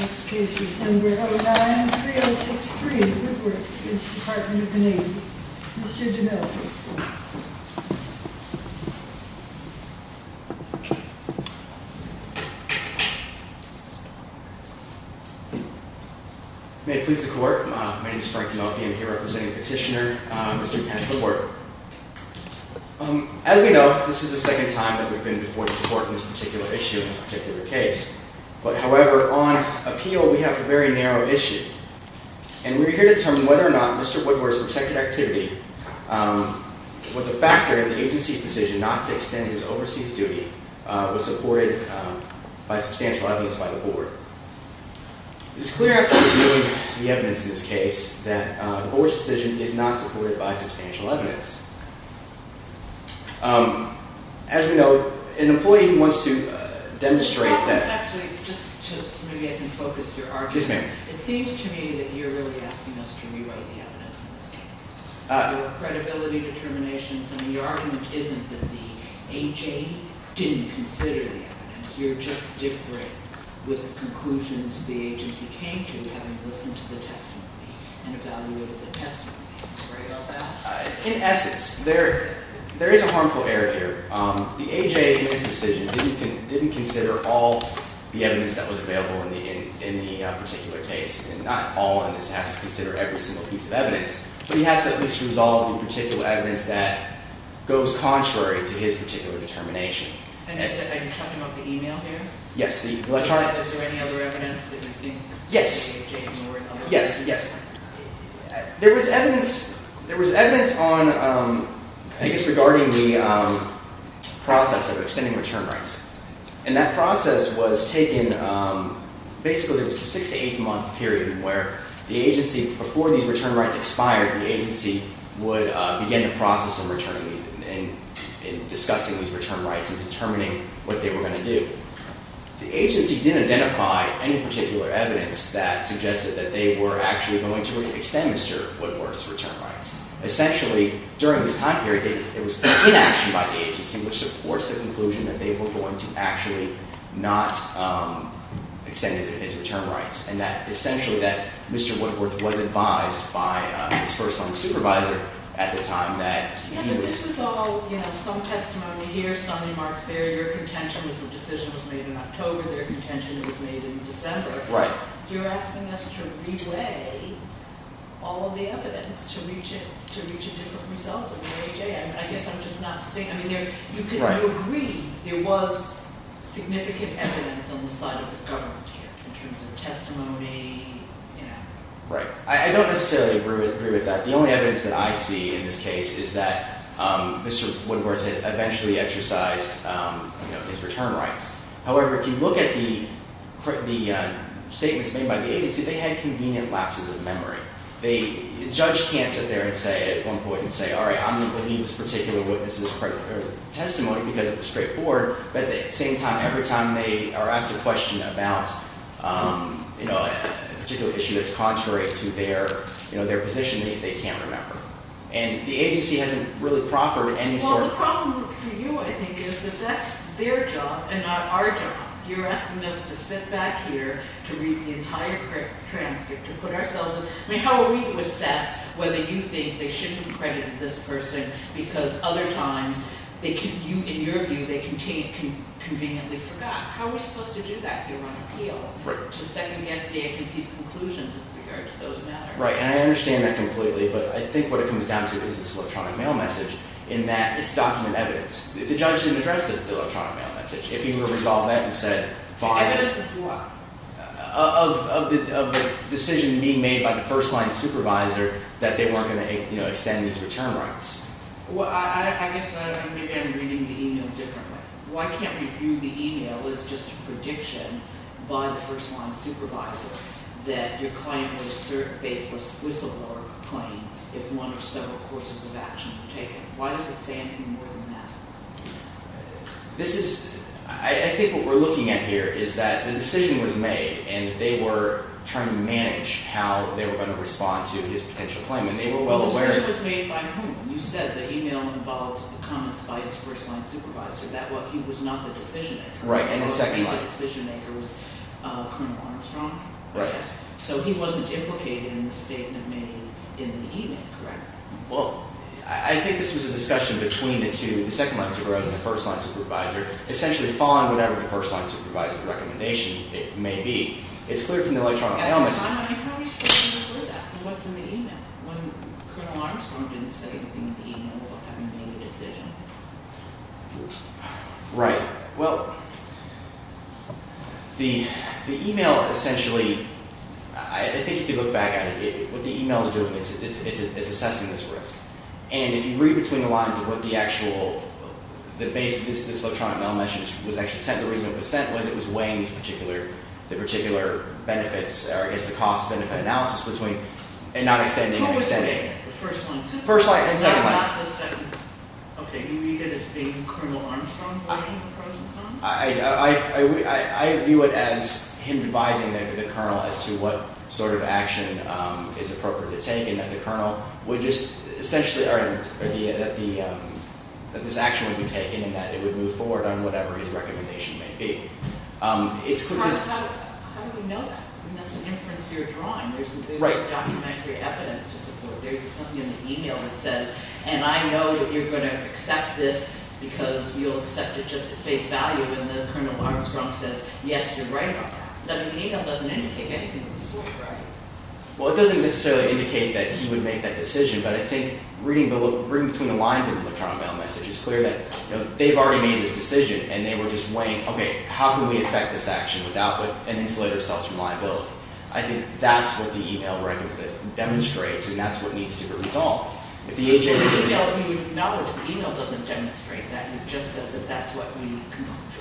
Next case is number 093063 Woodworth v. Department of the Navy. Mr. DeMille. May it please the court. My name is Frank DeMille. I am here representing Petitioner, Mr. Kent Woodworth. As we know, this is the second time that we've been before this court in this particular issue, in this particular case. However, on appeal, we have a very narrow issue. And we're here to determine whether or not Mr. Woodworth's protected activity was a factor in the agency's decision not to extend his overseas duty was supported by substantial evidence by the board. It is clear after reviewing the evidence in this case that the board's decision is not supported by substantial evidence. As we know, an employee who wants to demonstrate that... Actually, just so maybe I can focus your argument. Yes, ma'am. It seems to me that you're really asking us to rewrite the evidence in this case. There were credibility determinations, and the argument isn't that the A.J. didn't consider the evidence. You're just different with conclusions the agency came to, having listened to the testimony and evaluated the testimony. In essence, there is a harmful error here. The A.J. in his decision didn't consider all the evidence that was available in the particular case. And not all. And this has to consider every single piece of evidence. But he has to at least resolve the particular evidence that goes contrary to his particular determination. Are you talking about the e-mail here? Yes. Was there any other evidence that you think the A.J. ignored? Yes. There was evidence on... I think it's regarding the process of extending return rights. And that process was taken... Basically, it was a six- to eight-month period where the agency, before these return rights expired, the agency would begin the process of returning these and discussing these return rights and determining what they were going to do. The agency didn't identify any particular evidence that suggested that they were actually going to extend Mr. Woodworth's return rights. Essentially, during this time period, it was inaction by the agency which supports the conclusion that they were going to actually not extend his return rights. And that essentially that Mr. Woodworth was advised by his first-line supervisor at the time that he was... Their contention was made in October. Their contention was made in December. Right. You're asking us to re-weigh all of the evidence to reach a different result than the A.J. I guess I'm just not seeing... I mean, you could agree there was significant evidence on the side of the government here in terms of testimony, you know. Right. I don't necessarily agree with that. The only evidence that I see in this case is that Mr. Woodworth had eventually exercised, you know, his return rights. However, if you look at the statements made by the agency, they had convenient lapses of memory. The judge can't sit there and say at one point and say, all right, I'm going to believe this particular witness' testimony because it was straightforward. But at the same time, every time they are asked a question about, you know, a particular issue that's contrary to their, you know, their position, they can't remember. And the agency hasn't really proffered any sort of... Well, the problem for you, I think, is that that's their job and not our job. You're asking us to sit back here to read the entire transcript to put ourselves in... I mean, how are we to assess whether you think they should be credited this person because other times they can... In your view, they can conveniently forgot. How are we supposed to do that if you're on appeal? Right. To second-guess the agency's conclusions with regard to those matters. Right. And I understand that completely. But I think what it comes down to is this electronic mail message in that it's document evidence. The judge didn't address the electronic mail message. If he were to resolve that and said, fine... Evidence of what? Of the decision being made by the first-line supervisor that they weren't going to, you know, extend these return rights. Well, I guess I'm reading the email differently. Why can't we view the email as just a prediction by the first-line supervisor that your claim was a certain baseless whistleblower claim if one or several courses of action were taken? Why does it say anything more than that? This is – I think what we're looking at here is that the decision was made and that they were trying to manage how they were going to respond to his potential claim. And they were well aware... Well, the decision was made by whom? You said the email involved comments by his first-line supervisor. That what he was not the decision-maker. Right. And the second-line... The decision-maker was Colonel Armstrong. Right. So he wasn't implicated in the statement made in the email, correct? Well, I think this was a discussion between the two – the second-line supervisor and the first-line supervisor. Essentially following whatever the first-line supervisor's recommendation may be. It's clear from the electronic analysis... You probably still haven't heard that. What's in the email? When Colonel Armstrong didn't say anything in the email about having made a decision. Right. Well, the email essentially – I think if you look back at it, what the email is doing is it's assessing this risk. And if you read between the lines of what the actual – the basis of this electronic mail message was actually sent, the reason it was sent was it was weighing these particular – the particular benefits, or I guess the cost-benefit analysis between – and not extending and extending. Who was the first-line supervisor? First-line and second-line. Okay. You read it as being Colonel Armstrong voting for President Trump? I view it as him advising the colonel as to what sort of action is appropriate to take and that the colonel would just essentially – or that this action would be taken and that it would move forward on whatever his recommendation may be. How do we know that? I mean, that's an inference you're drawing. Right. There's no documentary evidence to support it. There's something in the email that says, and I know that you're going to accept this because you'll accept it just at face value. And then Colonel Armstrong says, yes, you're right on that. So the email doesn't indicate anything of the sort, right? Well, it doesn't necessarily indicate that he would make that decision. But I think reading between the lines of the electronic mail message, it's clear that they've already made this decision, and they were just weighing, okay, how can we affect this action without an insulative source of liability? I think that's what the email record demonstrates, and that's what needs to be resolved. Now, the email doesn't demonstrate that. You've just said that that's what we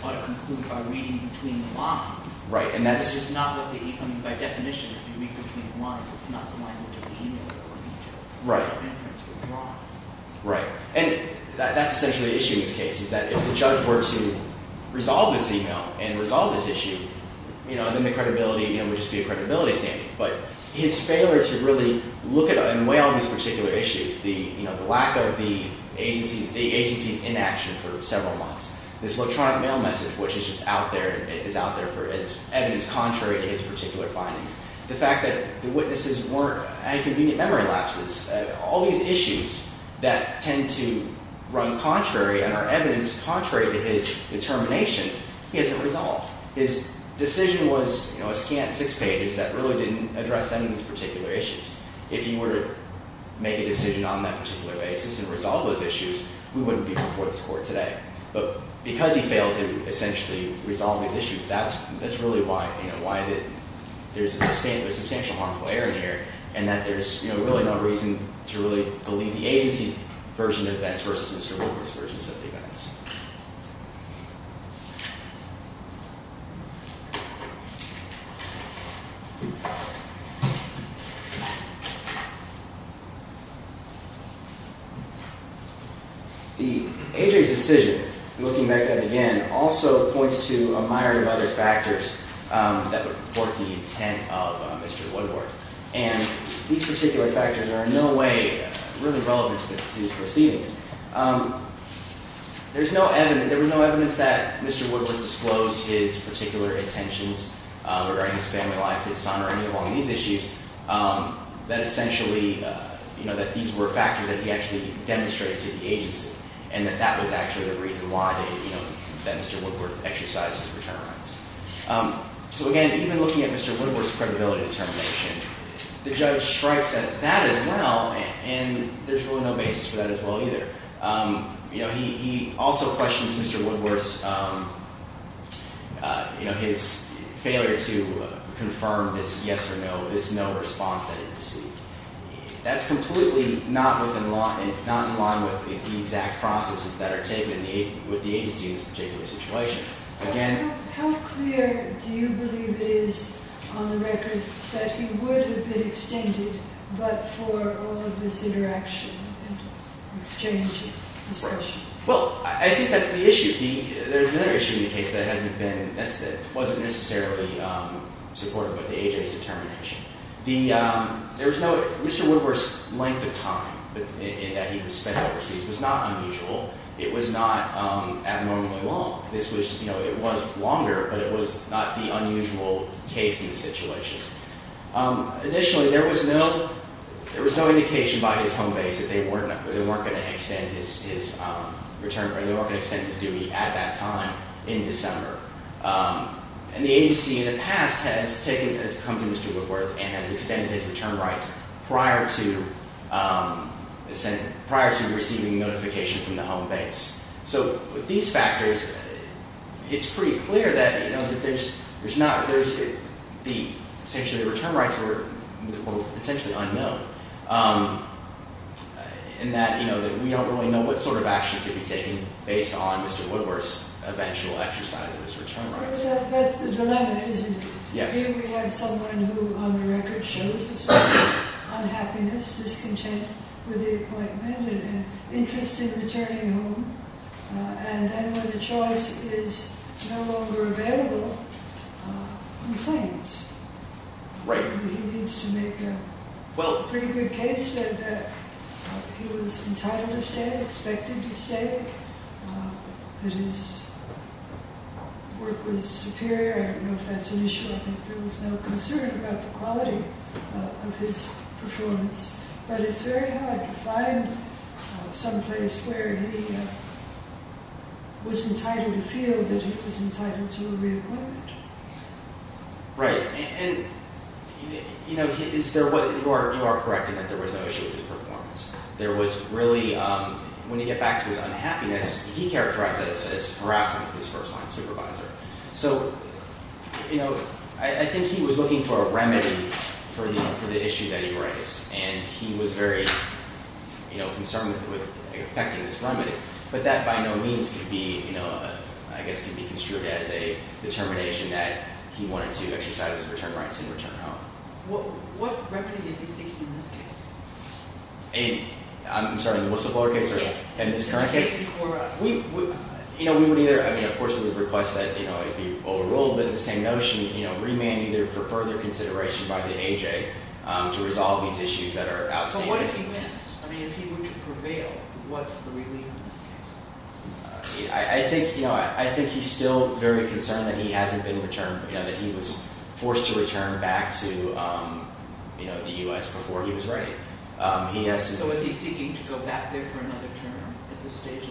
ought to conclude by reading between the lines. Right. Which is not what the – I mean, by definition, if you read between the lines, it's not the line which is the email or email. Right. That's the inference you're drawing. Right. And that's essentially the issue in this case, is that if the judge were to resolve this email and resolve this issue, then the credibility would just be a credibility standing. But his failure to really look at and weigh all these particular issues, the lack of the agency's inaction for several months, this electronic mail message, which is just out there and is out there as evidence contrary to his particular findings, the fact that the witnesses weren't – had convenient memory lapses, all these issues that tend to run contrary and are evidence contrary to his determination, he hasn't resolved. His decision was, you know, a scant six pages that really didn't address any of these particular issues. If he were to make a decision on that particular basis and resolve those issues, we wouldn't be before this Court today. But because he failed to essentially resolve these issues, that's really why – you know, why there's a substantial amount of error in here and that there's, you know, really no reason to really believe the agency's version of events versus Mr. Walker's versions of the events. The agency's decision, looking back at it again, also points to a myriad of other factors that would support the intent of Mr. Woodward. And these particular factors are in no way really relevant to these proceedings. There's no evidence – there was no evidence that Mr. Woodward disclosed his particular intentions regarding his family life, his son or any of all these issues that essentially, you know, that these were factors that he actually demonstrated to the agency and that that was actually the reason why they, you know, that Mr. Woodward exercised his return rights. So again, even looking at Mr. Woodward's credibility determination, the judge strikes at that as well and there's really no basis for that as well either. You know, he also questions Mr. Woodward's, you know, his failure to confirm this yes or no, this no response that he received. That's completely not in line with the exact processes that are taken with the agency in this particular situation. How clear do you believe it is on the record that he would have been extended but for all of this interaction and exchange and discussion? Well, I think that's the issue. There's another issue in the case that hasn't been – that wasn't necessarily supported by the agency's determination. The – there was no – Mr. Woodward's length of time in that he was spent overseas was not unusual. It was not abnormally long. This was – you know, it was longer but it was not the unusual case in the situation. Additionally, there was no – there was no indication by his home base that they weren't going to extend his return – or they weren't going to extend his duty at that time in December. And the agency in the past has taken – has come to Mr. Woodward and has extended his return rights prior to – prior to receiving notification from the home base. So with these factors, it's pretty clear that, you know, that there's not – there's – the – essentially the return rights were essentially unknown. And that, you know, that we don't really know what sort of action could be taken based on Mr. Woodward's eventual exercise of his return rights. But that's the dilemma, isn't it? Yes. Here we have someone who on the record shows the sort of unhappiness, discontent with the appointment and an interest in returning home. And then when the choice is no longer available, complains. Right. He needs to make a pretty good case that he was entitled to stay, expected to stay, that his work was superior. I don't know if that's an issue. I think there was no concern about the quality of his performance. But it's very hard to find someplace where he was entitled to feel that he was entitled to a reacquaintment. Right. And, you know, is there – you are correct in that there was no issue with his performance. There was really – when you get back to his unhappiness, he characterized that as harassment of his first-line supervisor. So, you know, I think he was looking for a remedy for the issue that he raised. And he was very, you know, concerned with effecting this remedy. But that by no means could be, you know, I guess could be construed as a determination that he wanted to exercise his return rights and return home. What remedy is he seeking in this case? In – I'm sorry, in the whistleblower case or in this current case? In this case before – You know, we would either – I mean, of course, we would request that, you know, it be overruled. But in the same notion, you know, remand either for further consideration by the AJ to resolve these issues that are outstanding. But what if he wins? I mean, if he were to prevail, what's the relief in this case? I think, you know, I think he's still very concerned that he hasn't been returned, you know, that he was forced to return back to, you know, the U.S. before he was ready. He has – So is he seeking to go back there for another term at this stage?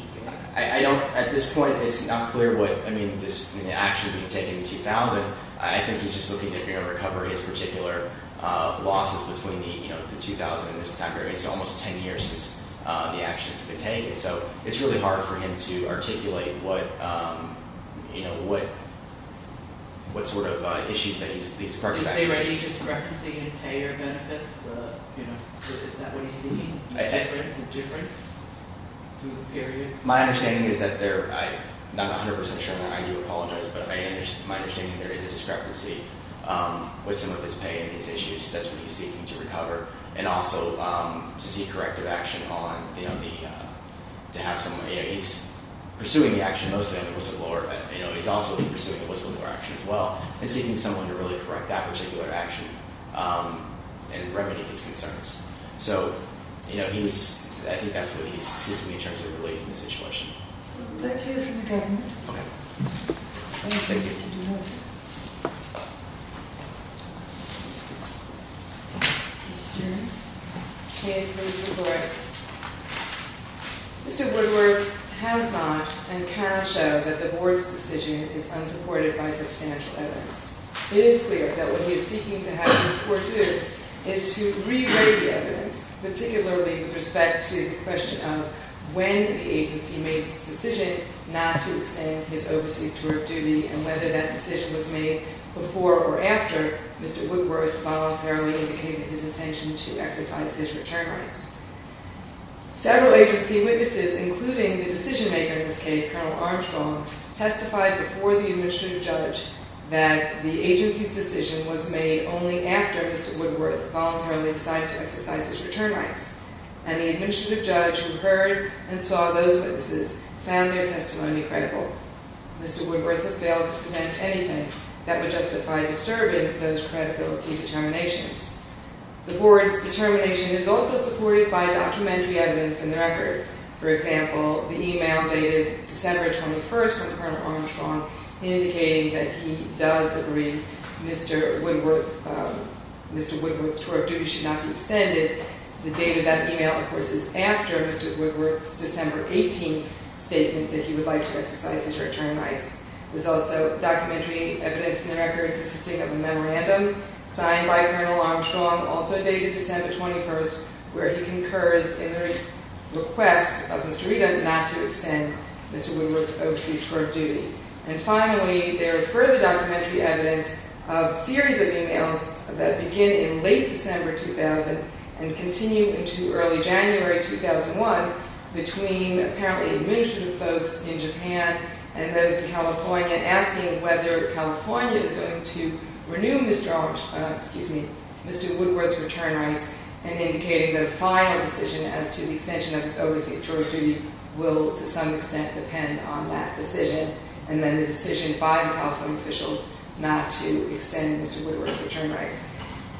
I don't – at this point, it's not clear what – I mean, this – I mean, the action being taken in 2000, I think he's just looking to, you know, recover his particular losses between the, you know, the 2000 and this time period. It's almost 10 years since the actions have been taken. So it's really hard for him to articulate what, you know, what sort of issues that he's – Is there any discrepancy in payer benefits? You know, is that what he's seeking? A difference to the period? My understanding is that there – I'm not 100 percent sure, and I do apologize. But my understanding is there is a discrepancy with some of his pay and his issues. That's what he's seeking to recover. And also to see corrective action on, you know, the – to have someone – you know, he's pursuing the action mostly on the whistleblower. You know, he's also been pursuing the whistleblower action as well and seeking someone to really correct that particular action and remedy his concerns. So, you know, he's – I think that's what he's seeking in terms of relief from the situation. Let's hear from the government. Okay. I'm going to take this to the board. Mr. Kidd, please report. Mr. Woodworth has not and cannot show that the board's decision is unsupported by substantial evidence. It is clear that what he is seeking to have this court do is to re-rate the evidence, particularly with respect to the question of when the agency made its decision not to extend his overseas tour of duty and whether that decision was made before or after Mr. Woodworth voluntarily indicated his intention to exercise his return rights. Several agency witnesses, including the decision-maker in this case, Colonel Armstrong, testified before the administrative judge that the agency's decision was made only after Mr. Woodworth voluntarily decided to exercise his return rights. And the administrative judge who heard and saw those witnesses found their testimony credible. Mr. Woodworth has failed to present anything that would justify disturbing those credibility determinations. The board's determination is also supported by documentary evidence in the record. For example, the email dated December 21st from Colonel Armstrong indicating that he does agree that Mr. Woodworth's tour of duty should not be extended. The date of that email, of course, is after Mr. Woodworth's December 18th statement that he would like to exercise his return rights. There's also documentary evidence in the record consisting of a memorandum signed by Colonel Armstrong, also dated December 21st, where he concurs in the request of Mr. Regan not to extend Mr. Woodworth's overseas tour of duty. And finally, there is further documentary evidence of a series of emails that begin in late December 2000 and continue into early January 2001 between apparently administrative folks in Japan and those in California asking whether California is going to renew Mr. Woodworth's return rights and indicating that a final decision as to the extension of his overseas tour of duty will, to some extent, depend on that decision and then the decision by the California officials not to extend Mr. Woodworth's return rights.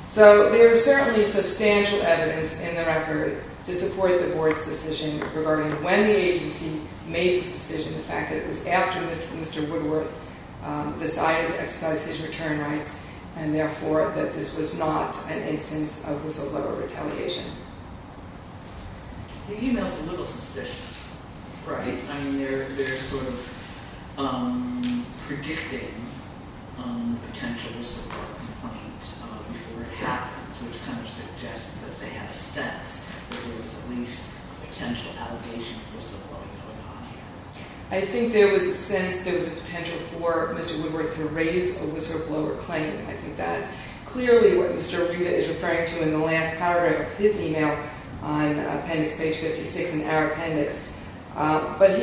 So there is certainly substantial evidence in the record to support the board's decision regarding when the agency made this decision, the fact that it was after Mr. Woodworth decided to exercise his return rights and therefore that this was not an instance of whistleblower retaliation. The email's a little suspicious, right? I mean, they're sort of predicting a potential whistleblower complaint before it happens, which kind of suggests that they have a sense that there was at least a potential allegation of whistleblowing going on here. I think there was a sense that there was a potential for Mr. Woodworth to raise a whistleblower claim. I think that is clearly what Mr. Riga is referring to in the last paragraph of his email on appendix page 56 in our appendix. But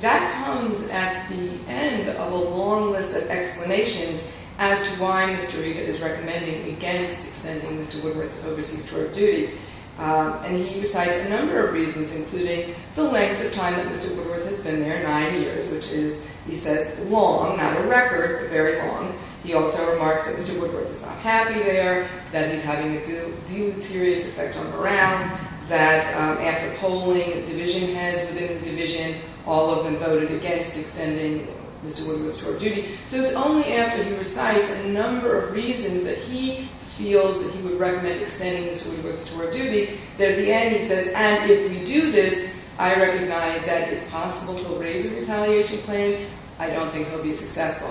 that comes at the end of a long list of explanations as to why Mr. Riga is recommending against extending Mr. Woodworth's overseas tour of duty. And he recites a number of reasons, including the length of time that Mr. Woodworth has been there, nine years, which is, he says, long. Not a record, but very long. He also remarks that Mr. Woodworth is not happy there, that he's having a deleterious effect on Brown, that after polling division heads within his division, all of them voted against extending Mr. Woodworth's tour of duty. So it's only after he recites a number of reasons that he feels that he would recommend extending Mr. Woodworth's tour of duty, that at the end he says, and if we do this, I recognize that it's possible he'll raise a retaliation claim. I don't think he'll be successful.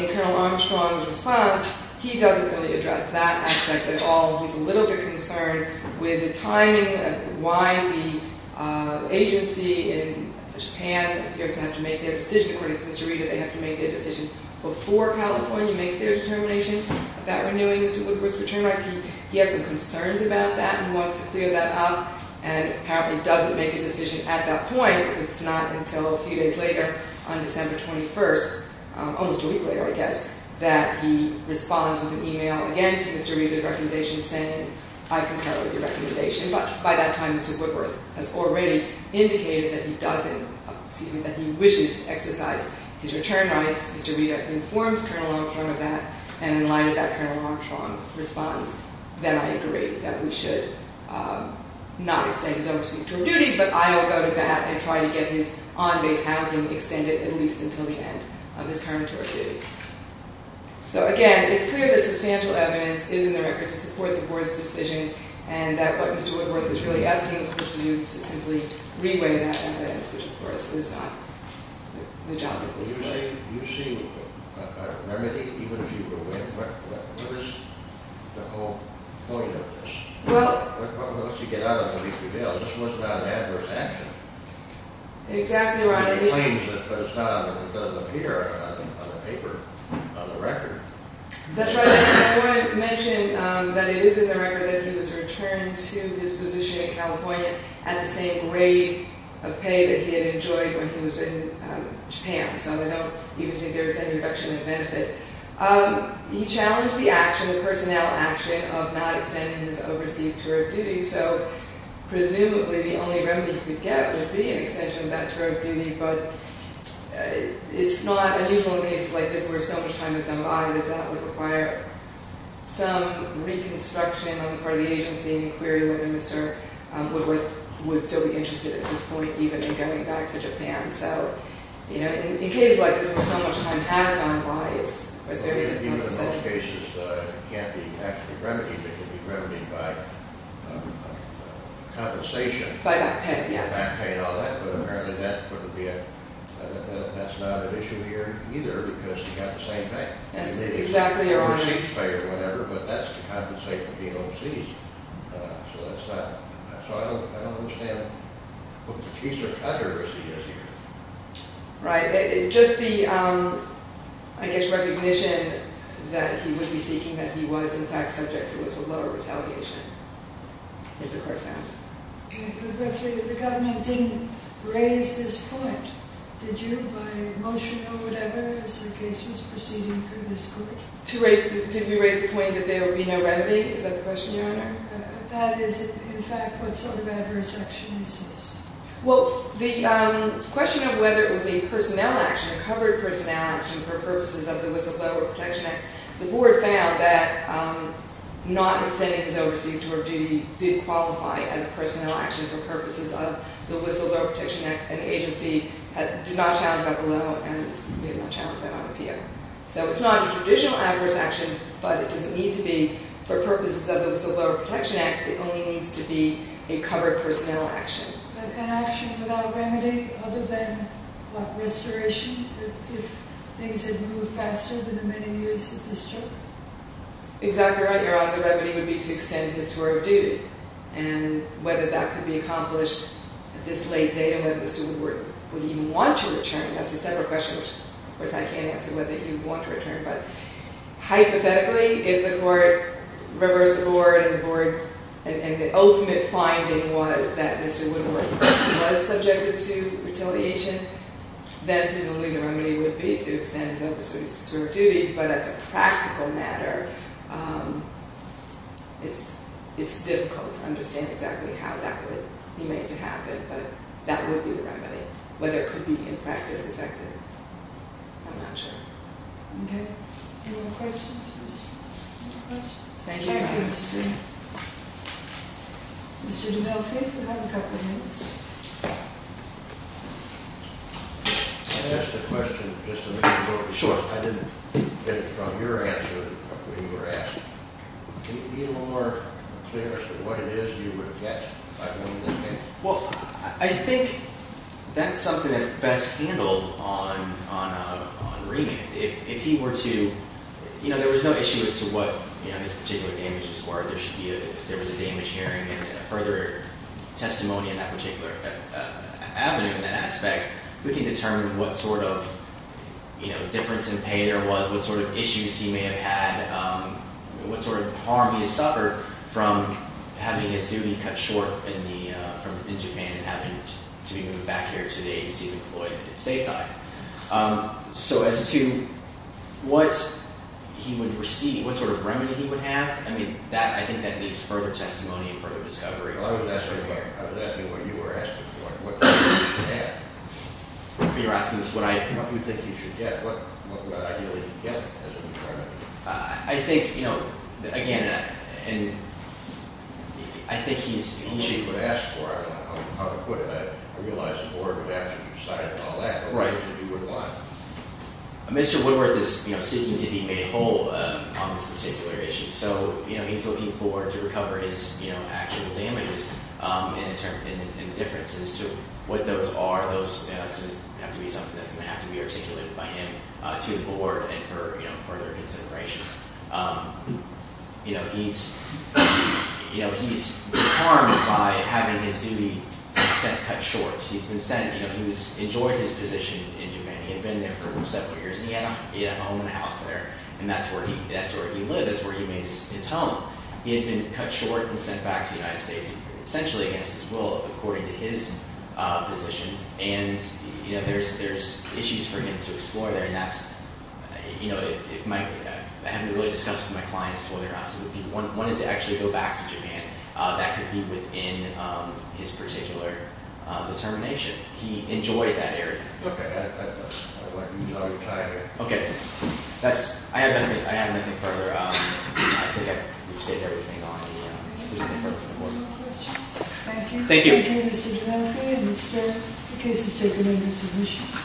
In Colonel Armstrong's response, he doesn't really address that aspect at all. He's a little bit concerned with the timing of why the agency in Japan appears to have to make their decision. According to Mr. Rita, they have to make their decision before California makes their determination about renewing Mr. Woodworth's return rights. He has some concerns about that and wants to clear that up, and apparently doesn't make a decision at that point. It's not until a few days later, on December 21st, almost a week later, I guess, that he responds with an email again to Mr. Rita's recommendation, but by that time Mr. Woodworth has already indicated that he wishes to exercise his return rights. Mr. Rita informs Colonel Armstrong of that, and in light of that, Colonel Armstrong responds that I agree that we should not extend his overseas tour of duty, but I'll go to bat and try to get his on-base housing extended at least until the end of his tour of duty. So again, it's clear that substantial evidence is in the record to support the Board's decision, and that what Mr. Woodworth is really asking us to do is to simply re-weigh that evidence, which of course is not the job of this committee. Do you see a remedy, even if you do win? What is the whole point of this? Well… Unless you get out of the leafy bill, this was not an adverse action. Exactly right. It doesn't appear on the paper, on the record. That's right. I wanted to mention that it is in the record that he was returned to his position in California at the same rate of pay that he had enjoyed when he was in Japan, so I don't even think there was any reduction in benefits. He challenged the action, the personnel action, of not extending his overseas tour of duty, so presumably the only remedy he could get would be an extension of that tour of duty, but it's not unusual in cases like this where so much time has gone by that that would require some reconstruction on the part of the agency and inquiry whether Mr. Woodworth would still be interested at this point, even in going back to Japan. So, you know, in cases like this where so much time has gone by, it's very difficult to say. In those cases, it can't be actually remedied. It can be remedied by compensation. By back pay, yes. Back pay and all that, but apparently that's not an issue here either because he got the same pay. That's exactly right. Receipts pay or whatever, but that's to compensate for being overseas, so that's not… So I don't understand what the piece of utteracy is here. Right. Just the, I guess, recognition that he would be seeking, that he was in fact subject to a lot of retaliation, if the court found. The government didn't raise this point, did you, by motion or whatever, as the case was proceeding through this court? Did we raise the point that there would be no remedy? Is that the question, Your Honor? That is, in fact, what sort of adverse action this is. Well, the question of whether it was a personnel action, a covered personnel action for purposes of the Whistleblower Protection Act, the board found that not extending his overseas tour of duty did qualify as a personnel action for purposes of the Whistleblower Protection Act and the agency did not challenge that below and did not challenge that on appeal. So it's not a traditional adverse action, but it doesn't need to be for purposes of the Whistleblower Protection Act. It only needs to be a covered personnel action. But an action without remedy, other than restoration, if things had moved faster than the many years that this took? Exactly right, Your Honor. The remedy would be to extend his tour of duty. And whether that could be accomplished at this late date and whether Mr. Woodward would even want to return, that's a separate question, which, of course, I can't answer whether he would want to return. But hypothetically, if the court reversed the board and the ultimate finding was that Mr. Woodward was subjected to retaliation, then presumably the remedy would be to extend his overseas tour of duty. But as a practical matter, it's difficult to understand exactly how that would be made to happen. But that would be the remedy. Whether it could be in practice effective, I'm not sure. Okay. Any more questions? Thank you, Your Honor. Mr. DeVolfi, you have a couple of minutes. Can I ask a question, just to make sure? Sure. I didn't get it from your answer when you were asked. Can you be a little more clear as to what it is you would get by doing this case? Well, I think that's something that's best handled on remand. If he were to—you know, there was no issue as to what his particular damages were. There should be a—if there was a damage hearing and a further testimony in that particular avenue in that aspect, we can determine what sort of, you know, difference in pay there was, what sort of issues he may have had, what sort of harm he has suffered from having his duty cut short in Japan and having to be moved back here today because he's employed at the stateside. So as to what he would receive, what sort of remedy he would have, I mean, that—I think that needs further testimony and further discovery. Well, I wasn't asking about—I was asking what you were asking for. What do you think he should have? You're asking what I— What do you think he should get? I think, you know, again, I think he's— I don't know what to ask for. I don't know how to put it. I realize the board would have to decide on all that. Right. Mr. Woodworth is, you know, seeking to be made whole on this particular issue. So, you know, he's looking forward to recover his, you know, actual damages and the differences to what those are. Those have to be something that's going to have to be articulated by him to the board and for, you know, further consideration. You know, he's harmed by having his duty cut short. He's been sent—you know, he's enjoyed his position in Japan. He had been there for several years, and he had a home and a house there, and that's where he lived. That's where he made his home. He had been cut short and sent back to the United States, essentially against his will, according to his position. And, you know, there's issues for him to explore there, and that's—you know, if my— I haven't really discussed with my clients whether or not he wanted to actually go back to Japan. That could be within his particular determination. He enjoyed that area. Okay. I'm tired. Okay. That's—I haven't anything further. I think I've stated everything on the— Is there anything further for the board? Thank you. Thank you. Thank you, Mr. Dilanfi, and we expect the case is taken under submission.